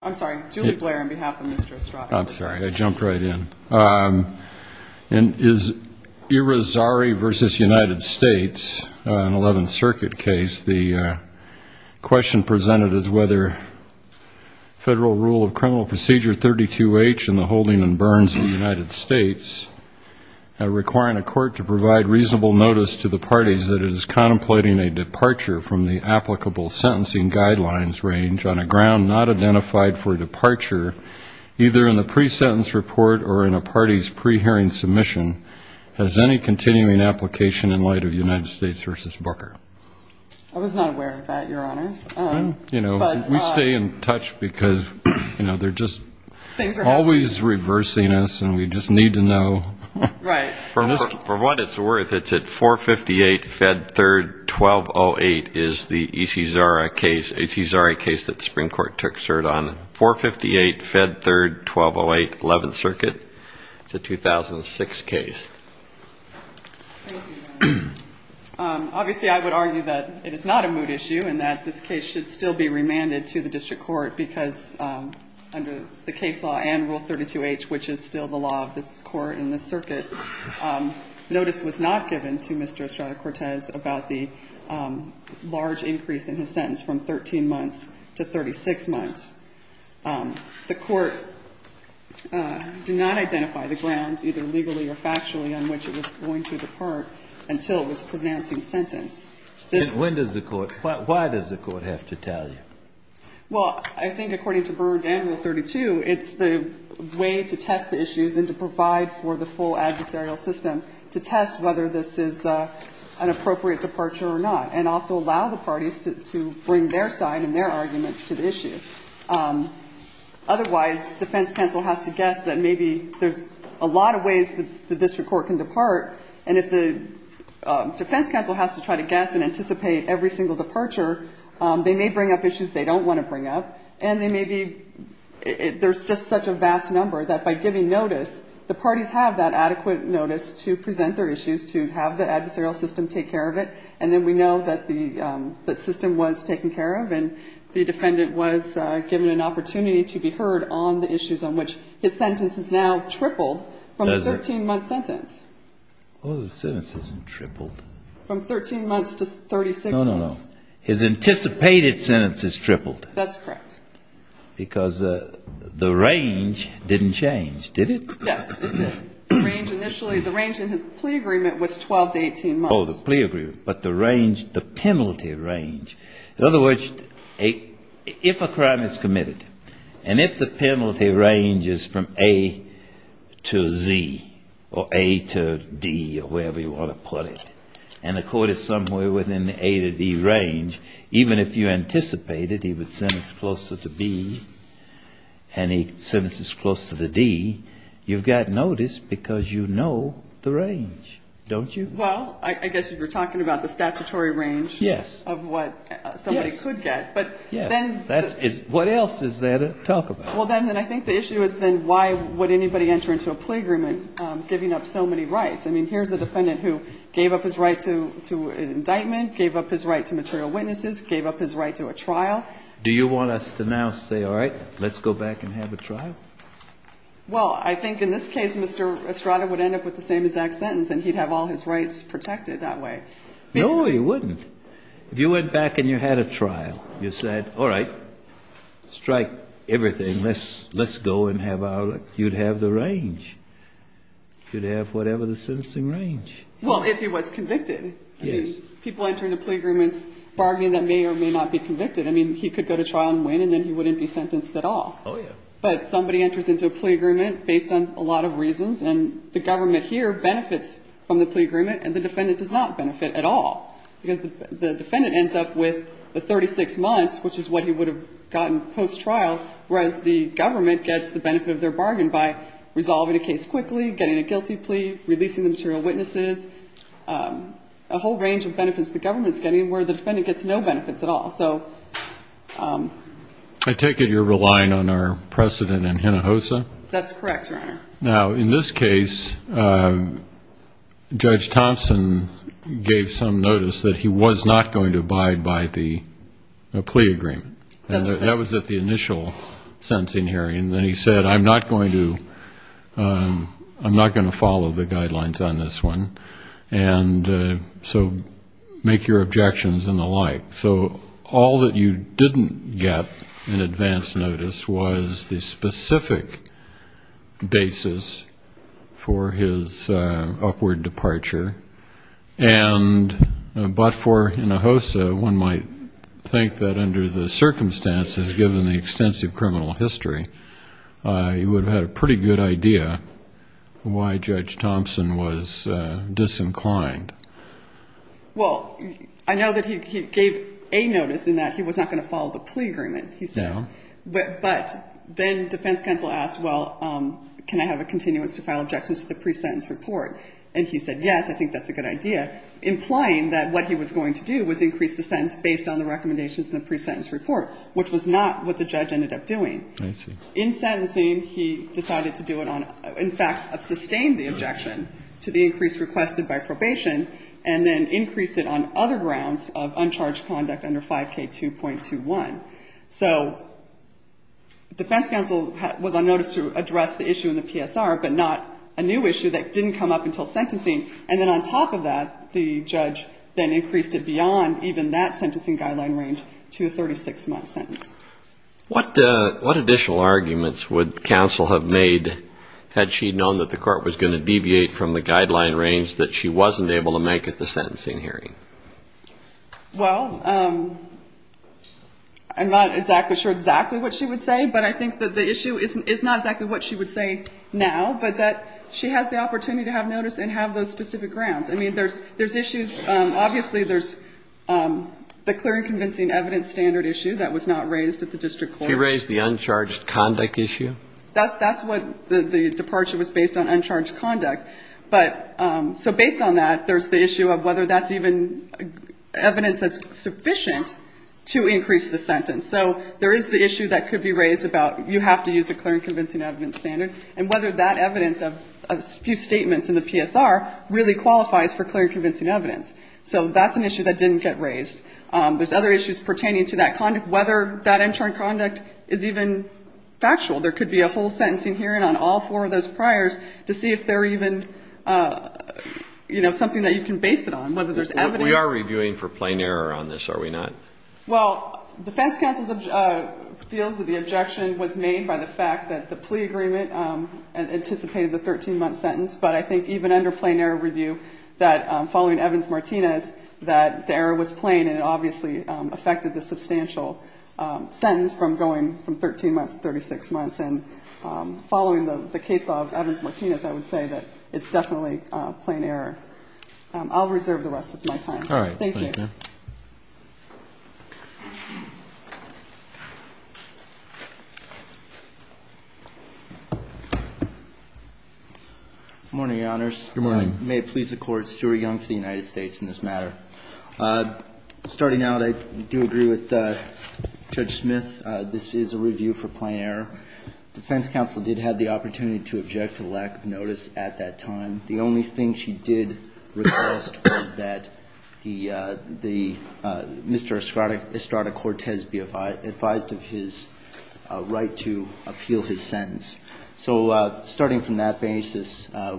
I'm sorry, I jumped right in. In Irizarry v. United States, an 11th Circuit case, the question presented is whether federal rule of criminal procedure 32H and the holding and burns of the United States are requiring a court to provide reasonable notice to the parties that it is contemplating a departure from the applicable sentencing guidelines range on a ground not identified by the United States Supreme Court. For example, the court has not made a decision on whether to allow for departure either in the pre-sentence report or in a party's pre-hearing submission. Has any continuing application in light of United States v. Booker? I was not aware of that, Your Honor. You know, we stay in touch because, you know, they're just always reversing us and we just need to know. Right. For what it's worth, it's at 458 Fed 3rd 1208 is the Isizari case that the Supreme Court took cert on. 458 Fed 3rd 1208, 11th Circuit. It's a 2006 case. Obviously, I would argue that it is not a moot issue and that this case should still be remanded to the district court because under the case law and rule 32H, which is still the law of this court in this circuit, notice was not given to Mr. Estrada-Cortez about the large increase in his sentence from 13 months to 36 months. The court did not identify the grounds, either legally or factually, on which it was going to depart until this pronouncing sentence. And when does the court – why does the court have to tell you? Well, I think according to Burns and rule 32, it's the way to test the issues and to provide for the full adversarial system to test whether this is an appropriate departure or not, and also allow the parties to bring their side and their arguments to the issue. Otherwise, defense counsel has to guess that maybe there's a lot of ways the district court can depart. And if the defense counsel has to try to guess and anticipate every single departure, they may bring up issues they don't want to bring up. And they may be – there's just such a vast number that by giving notice, the parties have that adequate notice to present their issues, to have the adversarial system take care of it. And then we know that the system was taken care of and the defendant was given an opportunity to be heard on the issues on which his sentence has now tripled from a 13-month sentence. Well, the sentence hasn't tripled. From 13 months to 36 months. No, no, no. His anticipated sentence has tripled. That's correct. Because the range didn't change, did it? Yes, it did. The range initially – the range in his plea agreement was 12 to 18 months. Oh, the plea agreement. But the range – the penalty range – in other words, if a crime is committed, and if the penalty range is from A to Z or A to D or wherever you want to put it, and the court is somewhere within the A to D range, even if you anticipated he would sentence closer to B and he sentences closer to D, you've got notice because you know the range, don't you? Well, I guess you're talking about the statutory range of what somebody could get. Yes. Yes. What else is there to talk about? Well, then I think the issue is then why would anybody enter into a plea agreement giving up so many rights? I mean, here's a defendant who gave up his right to an indictment, gave up his right to material witnesses, gave up his right to a trial. Do you want us to now say, all right, let's go back and have a trial? Well, I think in this case Mr. Estrada would end up with the same exact sentence and he'd have all his rights protected that way. No, he wouldn't. If you went back and you had a trial, you said, all right, strike everything, let's go and have our – you'd have the range. You'd have whatever the sentencing range. Well, if he was convicted. Yes. I mean, people enter into plea agreements bargaining that may or may not be convicted. I mean, he could go to trial and win and then he wouldn't be sentenced at all. Oh, yeah. But somebody enters into a plea agreement based on a lot of reasons and the government here benefits from the plea agreement and the defendant does not benefit at all because the defendant ends up with the 36 months, which is what he would have gotten post-trial, whereas the government gets the benefit of their bargain by resolving a case quickly, getting a guilty plea, releasing the material witnesses, a whole range of benefits the government is getting where the defendant gets no benefits at all. I take it you're relying on our precedent in Hinojosa? That's correct, Your Honor. Now, in this case, Judge Thompson gave some notice that he was not going to abide by the plea agreement. That's correct. That was at the initial sentencing hearing. And then he said, I'm not going to follow the guidelines on this one, and so make your objections and the like. So all that you didn't get in advance notice was the specific basis for his upward departure. And but for Hinojosa, one might think that under the circumstances, given the extensive criminal history, you would have had a pretty good idea why Judge Thompson was disinclined. Well, I know that he gave a notice in that he was not going to follow the plea agreement, he said. No. But then defense counsel asked, well, can I have a continuance to file objections to the pre-sentence report? And he said, yes, I think that's a good idea, implying that what he was going to do was increase the sentence based on the recommendations in the pre-sentence report, which was not what the judge ended up doing. I see. In sentencing, he decided to do it on, in fact, sustained the objection to the increase requested by probation, and then increased it on other grounds of uncharged conduct under 5K2.21. So defense counsel was on notice to address the issue in the PSR, but not a new issue that didn't come up until sentencing. And then on top of that, the judge then increased it beyond even that sentencing guideline range to a 36-month sentence. What additional arguments would counsel have made had she known that the Court was going to deviate from the guideline range that she wasn't able to make at the sentencing hearing? Well, I'm not exactly sure exactly what she would say, but I think that the issue is not exactly what she would say now, but that she has the opportunity to have notice and have those specific grounds. I mean, there's issues. Obviously, there's the clear and convincing evidence standard issue that was not raised at the district court. She raised the uncharged conduct issue. That's what the departure was based on, uncharged conduct. But so based on that, there's the issue of whether that's even evidence that's sufficient to increase the sentence. So there is the issue that could be raised about you have to use a clear and convincing evidence standard, and whether that evidence of a few statements in the PSR really qualifies for clear and convincing evidence. So that's an issue that didn't get raised. There's other issues pertaining to that conduct, whether that uncharged conduct is even factual. There could be a whole sentencing hearing on all four of those priors to see if there are even, you know, something that you can base it on, whether there's evidence. We are reviewing for plain error on this, are we not? Well, defense counsel feels that the objection was made by the fact that the plea agreement anticipated the 13-month sentence. But I think even under plain error review, that following Evans-Martinez, that the error was plain and it obviously affected the substantial sentence from going from 13 months to 36 months. And following the case of Evans-Martinez, I would say that it's definitely plain error. I'll reserve the rest of my time. All right. Thank you. Good morning, Your Honors. Good morning. May it please the Court, Stuart Young for the United States in this matter. Starting out, I do agree with Judge Smith. This is a review for plain error. Defense counsel did have the opportunity to object to lack of notice at that time. The only thing she did request was that Mr. Estrada-Cortez be advised of his right to appeal his sentence. So starting from that basis, the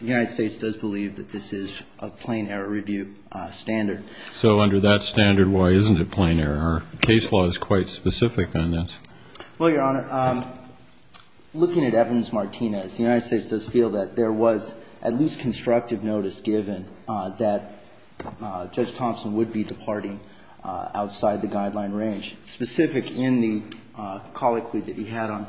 United States does believe that this is a plain error review standard. So under that standard, why isn't it plain error? Case law is quite specific on that. Well, Your Honor, looking at Evans-Martinez, the United States does feel that there was at least constructive notice given that Judge Thompson would be departing outside the guideline range, specific in the colloquy that he had on.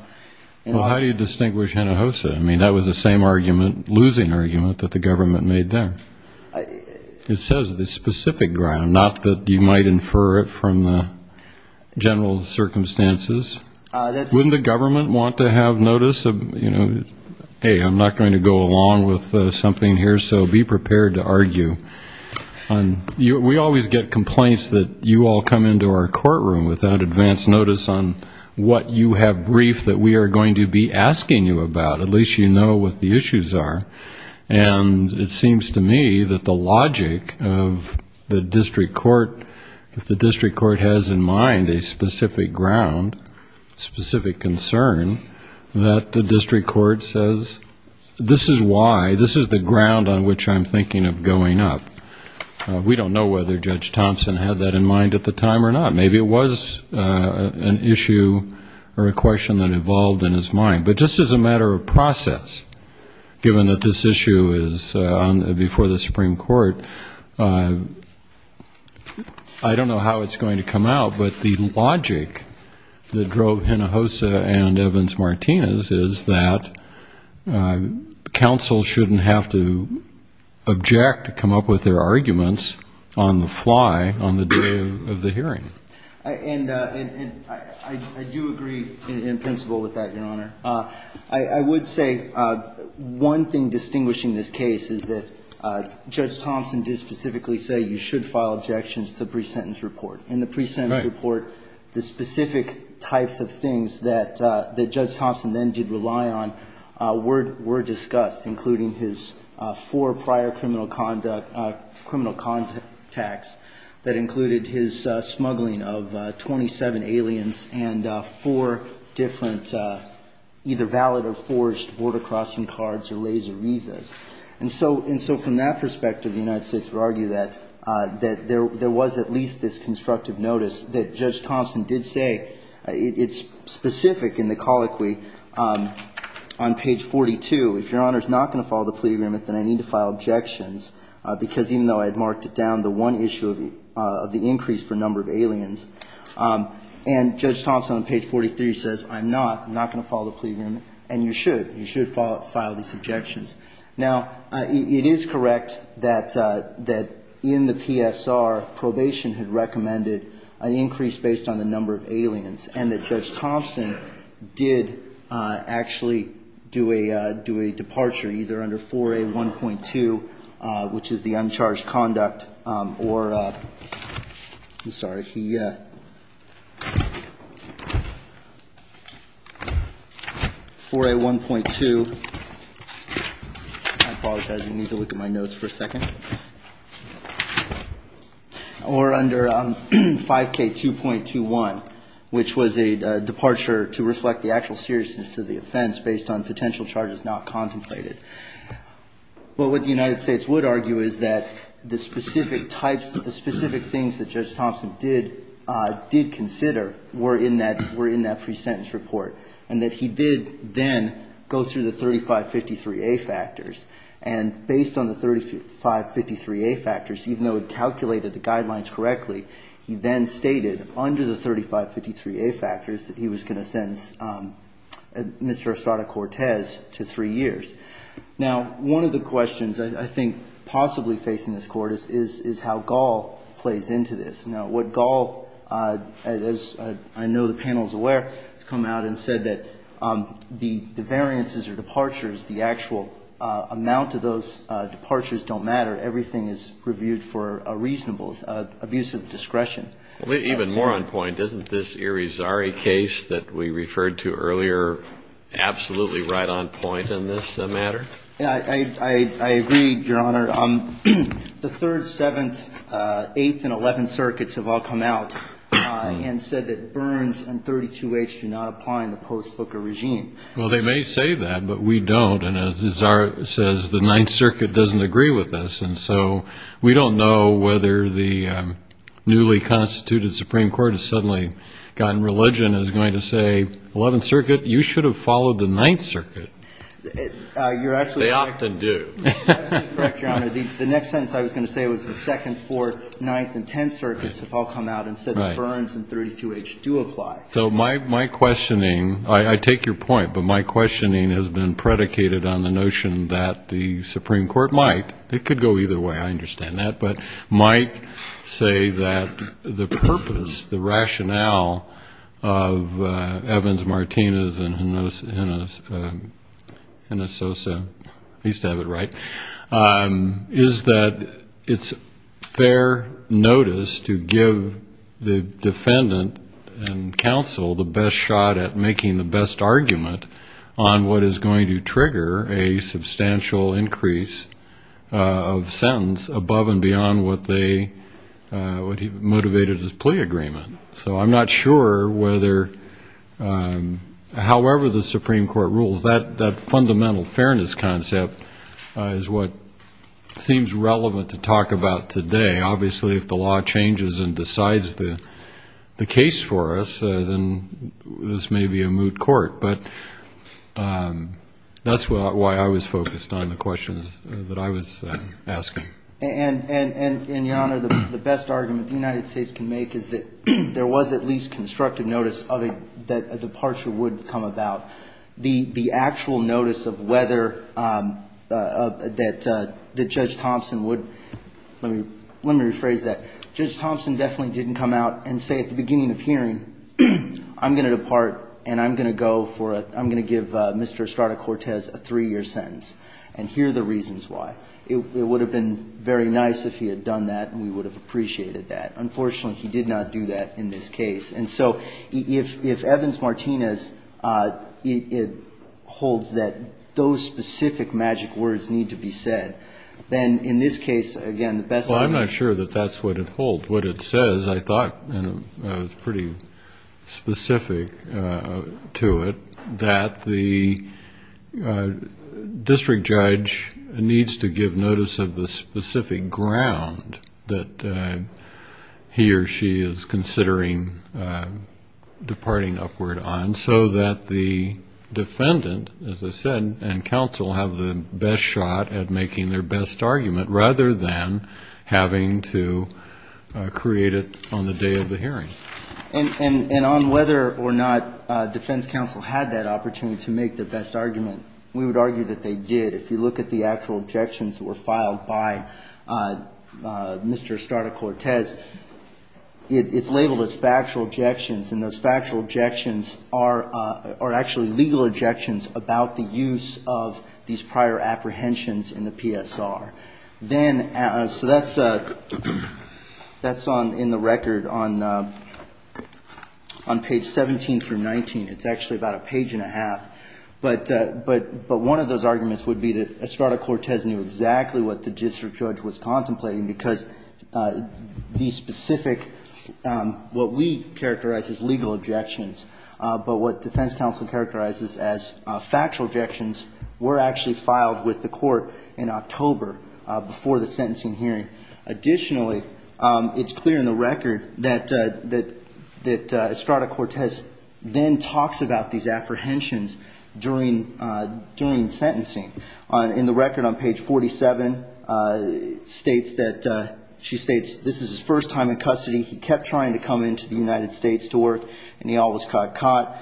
Well, how do you distinguish Hinojosa? I mean, that was the same argument, losing argument, that the government made there. It says the specific ground, not that you might infer it from the general circumstances. Wouldn't the government want to have notice of, you know, hey, I'm not going to go along with something here, so be prepared to argue. We always get complaints that you all come into our courtroom without advance notice on what you have briefed that we are going to be asking you about. At least you know what the issues are. And it seems to me that the logic of the district court, if the district court has in mind a specific ground, specific concern, that the district court says this is why, this is the ground on which I'm thinking of going up. We don't know whether Judge Thompson had that in mind at the time or not. Maybe it was an issue or a question that evolved in his mind. But just as a matter of process, given that this issue is before the Supreme Court, I don't know how it's going to come out, but the logic that drove Hinojosa and Evans-Martinez is that counsel shouldn't have to object to come up with their arguments on the fly on the day of the hearing. And I do agree in principle with that, Your Honor. I would say one thing distinguishing this case is that Judge Thompson did specifically say you should file objections to the pre-sentence report. In the pre-sentence report, the specific types of things that Judge Thompson then did rely on were discussed, including his four prior criminal conduct attacks that included his smuggling of 27 aliens and four different either valid or forged border-crossing cards or laser visas. And so from that perspective, the United States would argue that there was at least this constructive notice that Judge Thompson did say. It's specific in the colloquy on page 42. If Your Honor is not going to follow the plea agreement, then I need to file objections, because even though I had marked it down, the one issue of the increase for number of aliens, and Judge Thompson on page 43 says I'm not, I'm not going to follow the plea agreement, and you should. You should file these objections. Now, it is correct that in the PSR, probation had recommended an increase based on the number of aliens, and that Judge Thompson did actually do a departure either under 4A1.2, which is the uncharged conduct, or, I'm sorry, he, 4A1.2, I apologize, I need to look at my notes for a second, or under 5K2.21, which was a departure to reflect the actual seriousness of the offense based on potential charges not contemplated. But what the United States would argue is that the specific types, the specific things that Judge Thompson did, did consider were in that, were in that pre-sentence report, and that he did then go through the 3553A factors, and based on the 3553A factors, even though it calculated the guidelines correctly, he then stated under the 3553A factors that he was going to sentence Mr. Estrada-Cortez to three years. Now, one of the questions I think possibly facing this Court is how Gall plays into this. Now, what Gall, as I know the panel is aware, has come out and said that the variances or departures, the actual amount of those departures don't matter. Everything is reviewed for a reasonable, abusive discretion. Even more on point, isn't this Erie Zari case that we referred to earlier absolutely right on point in this matter? I agree, Your Honor. The 3rd, 7th, 8th, and 11th Circuits have all come out and said that Burns and 32H do not apply in the post-Booker regime. Well, they may say that, but we don't, and as Zari says, the 9th Circuit doesn't agree with us, and so we don't know whether the newly constituted Supreme Court has suddenly gotten religion as going to say, 11th Circuit, you should have followed the 9th Circuit. You're actually right. They often do. You're absolutely correct, Your Honor. The next sentence I was going to say was the 2nd, 4th, 9th, and 10th Circuits have all come out and said that Burns and 32H do apply. So my questioning, I take your point, but my questioning has been predicated on the notion that the Supreme Court might, it could go either way, I understand that, but might say that the purpose, the rationale of Evans, Martinez, and Hinojosa, at least to have it right, is that it's fair notice to give the defendant and counsel the best shot at making the best argument on what is going to trigger a substantial increase of sentence above and beyond what he motivated his plea agreement. So I'm not sure whether, however the Supreme Court rules, that fundamental fairness concept is what seems relevant to talk about today. Obviously, if the law changes and decides the case for us, then this may be a moot court, but that's why I was focused on the questions that I was asking. And, Your Honor, the best argument the United States can make is that there was at least constructive notice that a departure would come about. The actual notice of whether, that Judge Thompson would, let me rephrase that, Judge Thompson definitely didn't come out and say at the beginning of hearing, I'm going to depart and I'm going to go for, I'm going to give Mr. Estrada-Cortez a three-year sentence, and here are the reasons why. It would have been very nice if he had done that and we would have appreciated that. Unfortunately, he did not do that in this case. And so if Evans-Martinez, it holds that those specific magic words need to be said, then in this case, again, the best argument. I'm not sure that that's what it holds. What it says, I thought, and I was pretty specific to it, that the district judge needs to give notice of the specific ground that he or she is considering departing upward on, so that the defendant, as I said, and counsel have the best shot at making their best argument, rather than having to create it on the day of the hearing. And on whether or not defense counsel had that opportunity to make their best argument, we would argue that they did. If you look at the actual objections that were filed by Mr. Estrada-Cortez, it's labeled as factual objections, and those factual objections are actually legal objections about the use of these prior apprehensions in the PSR. Then, so that's in the record on page 17 through 19. It's actually about a page and a half. But one of those arguments would be that Estrada-Cortez knew exactly what the district judge was contemplating, because these specific, what we characterize as legal objections, but what defense counsel characterizes as factual objections, were actually filed with the court in October before the sentencing hearing. Additionally, it's clear in the record that Estrada-Cortez then talks about these apprehensions during sentencing. In the record on page 47, it states that, she states, this is his first time in custody. He kept trying to come into the United States to work, and he always got caught.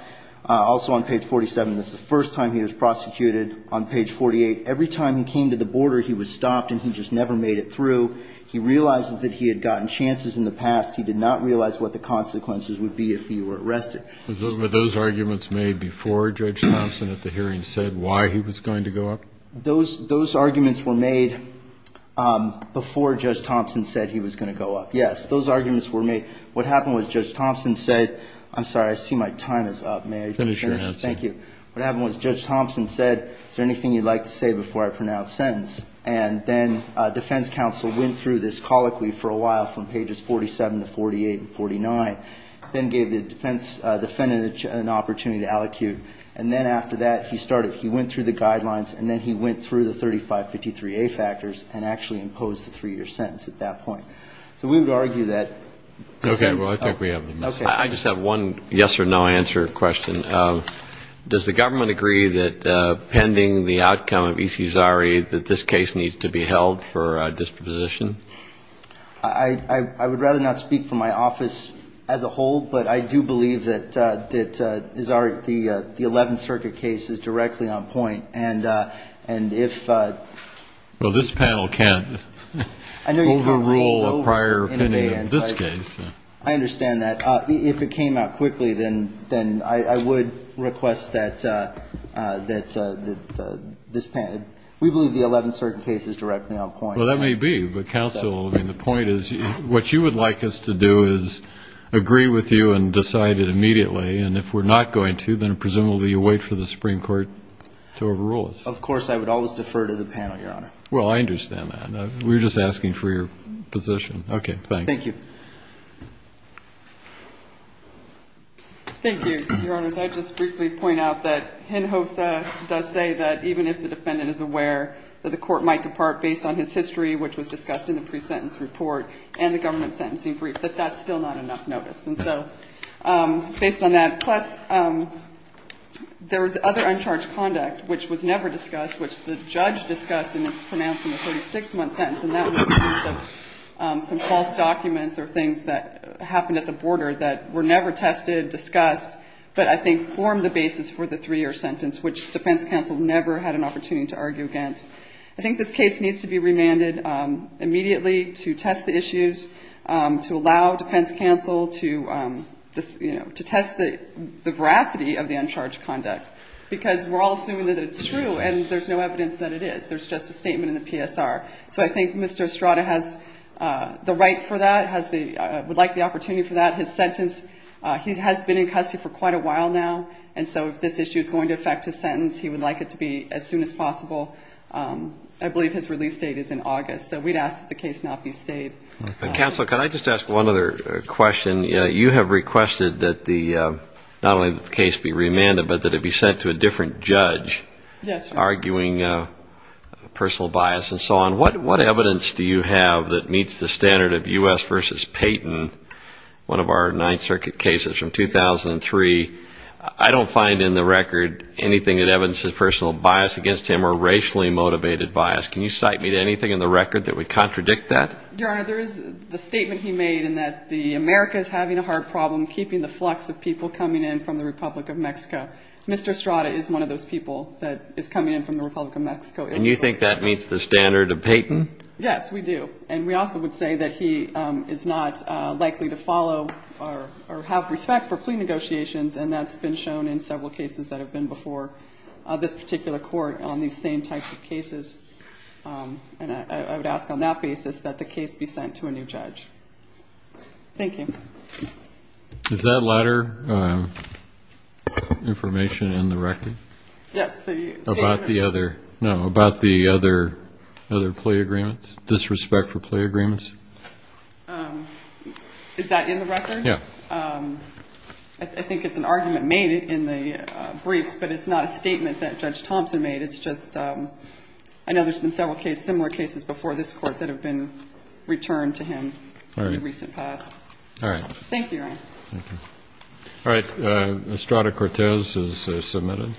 In the record on page 47, this is the first time he was prosecuted on page 48. Every time he came to the border, he was stopped, and he just never made it through. He realizes that he had gotten chances in the past. He did not realize what the consequences would be if he were arrested. Was those arguments made before Judge Thompson at the hearing said why he was going to go up? Those arguments were made before Judge Thompson said he was going to go up. Yes, those arguments were made. What happened was Judge Thompson said, I'm sorry, I see my time is up. May I finish? Thank you. What happened was Judge Thompson said, is there anything you'd like to say before I pronounce sentence? And then defense counsel went through this colloquy for a while, from pages 47 to 48 and 49, then gave the defense defendant an opportunity to allocute. And then after that, he started, he went through the guidelines, and then he went through the 3553A factors and actually imposed the three-year sentence at that point. So we would argue that the three-year sentence was a mistake. I would rather not speak for my office as a whole, but I do believe that the 11th Circuit case is directly on point. And if this panel can't overrule a prior opinion of this case. I understand that. If it came out quickly, then I would request that this panel, we believe the 11th Circuit case is a mistake. And if it's not, then I would request that this panel, we believe the 11th Circuit case is directly on point. Well, that may be, but counsel, I mean, the point is, what you would like us to do is agree with you and decide it immediately. And if we're not going to, then presumably you'll wait for the Supreme Court to overrule us. Of course, I would always defer to the panel, Your Honor. Well, I understand that. We're just asking for your position. Okay. Thank you. Thank you, Your Honors. I'd just briefly point out that Hinojosa does say that even if the defendant is aware that the court might depart based on his history, which was discussed in the pre-sentence report and the government sentencing brief, that that's still not enough notice. And so based on that, plus there was other uncharged conduct, which was never discussed, which the judge discussed in the pre-sentence report. And that was a case of some false documents or things that happened at the border that were never tested, discussed, but I think formed the basis for the three-year sentence, which defense counsel never had an opportunity to argue against. I think this case needs to be remanded immediately to test the issues, to allow defense counsel to test the veracity of the uncharged conduct, because we're all assuming that it's true, and there's no evidence that it is. There's just a statement in the PSR. So I think Mr. Estrada has the right for that, would like the opportunity for that. His sentence, he has been in custody for quite a while now, and so if this issue is going to affect his sentence, he would like it to be as soon as possible. I believe his release date is in August, so we'd ask that the case not be stayed. Counsel, could I just ask one other question? You have requested that the, not only that the case be remanded, but that it be sent to a different judge. Yes, Your Honor. Arguing personal bias and so on. What evidence do you have that meets the standard of U.S. v. Payton, one of our Ninth Circuit cases from 2003? I don't find in the record anything that evidences personal bias against him or racially motivated bias. Can you cite me to anything in the record that would contradict that? Your Honor, there is the statement he made in that the America is having a hard problem keeping the flux of people coming in from the Republic of Mexico. Mr. Estrada is one of those people that, you know, has been in custody for quite a while. And you think that meets the standard of Payton? Yes, we do. And we also would say that he is not likely to follow or have respect for plea negotiations, and that's been shown in several cases that have been before this particular court on these same types of cases. And I would ask on that basis that the case be sent to a new judge. Thank you. Is that latter information in the record? Yes. About the other plea agreements, disrespect for plea agreements? Is that in the record? Yes. I think it's an argument made in the briefs, but it's not a statement that Judge Thompson made. It's just I know there's been several similar cases before this court that have been returned to him in the recent past. All right. Thank you. All right. Estrada Cortez is submitted.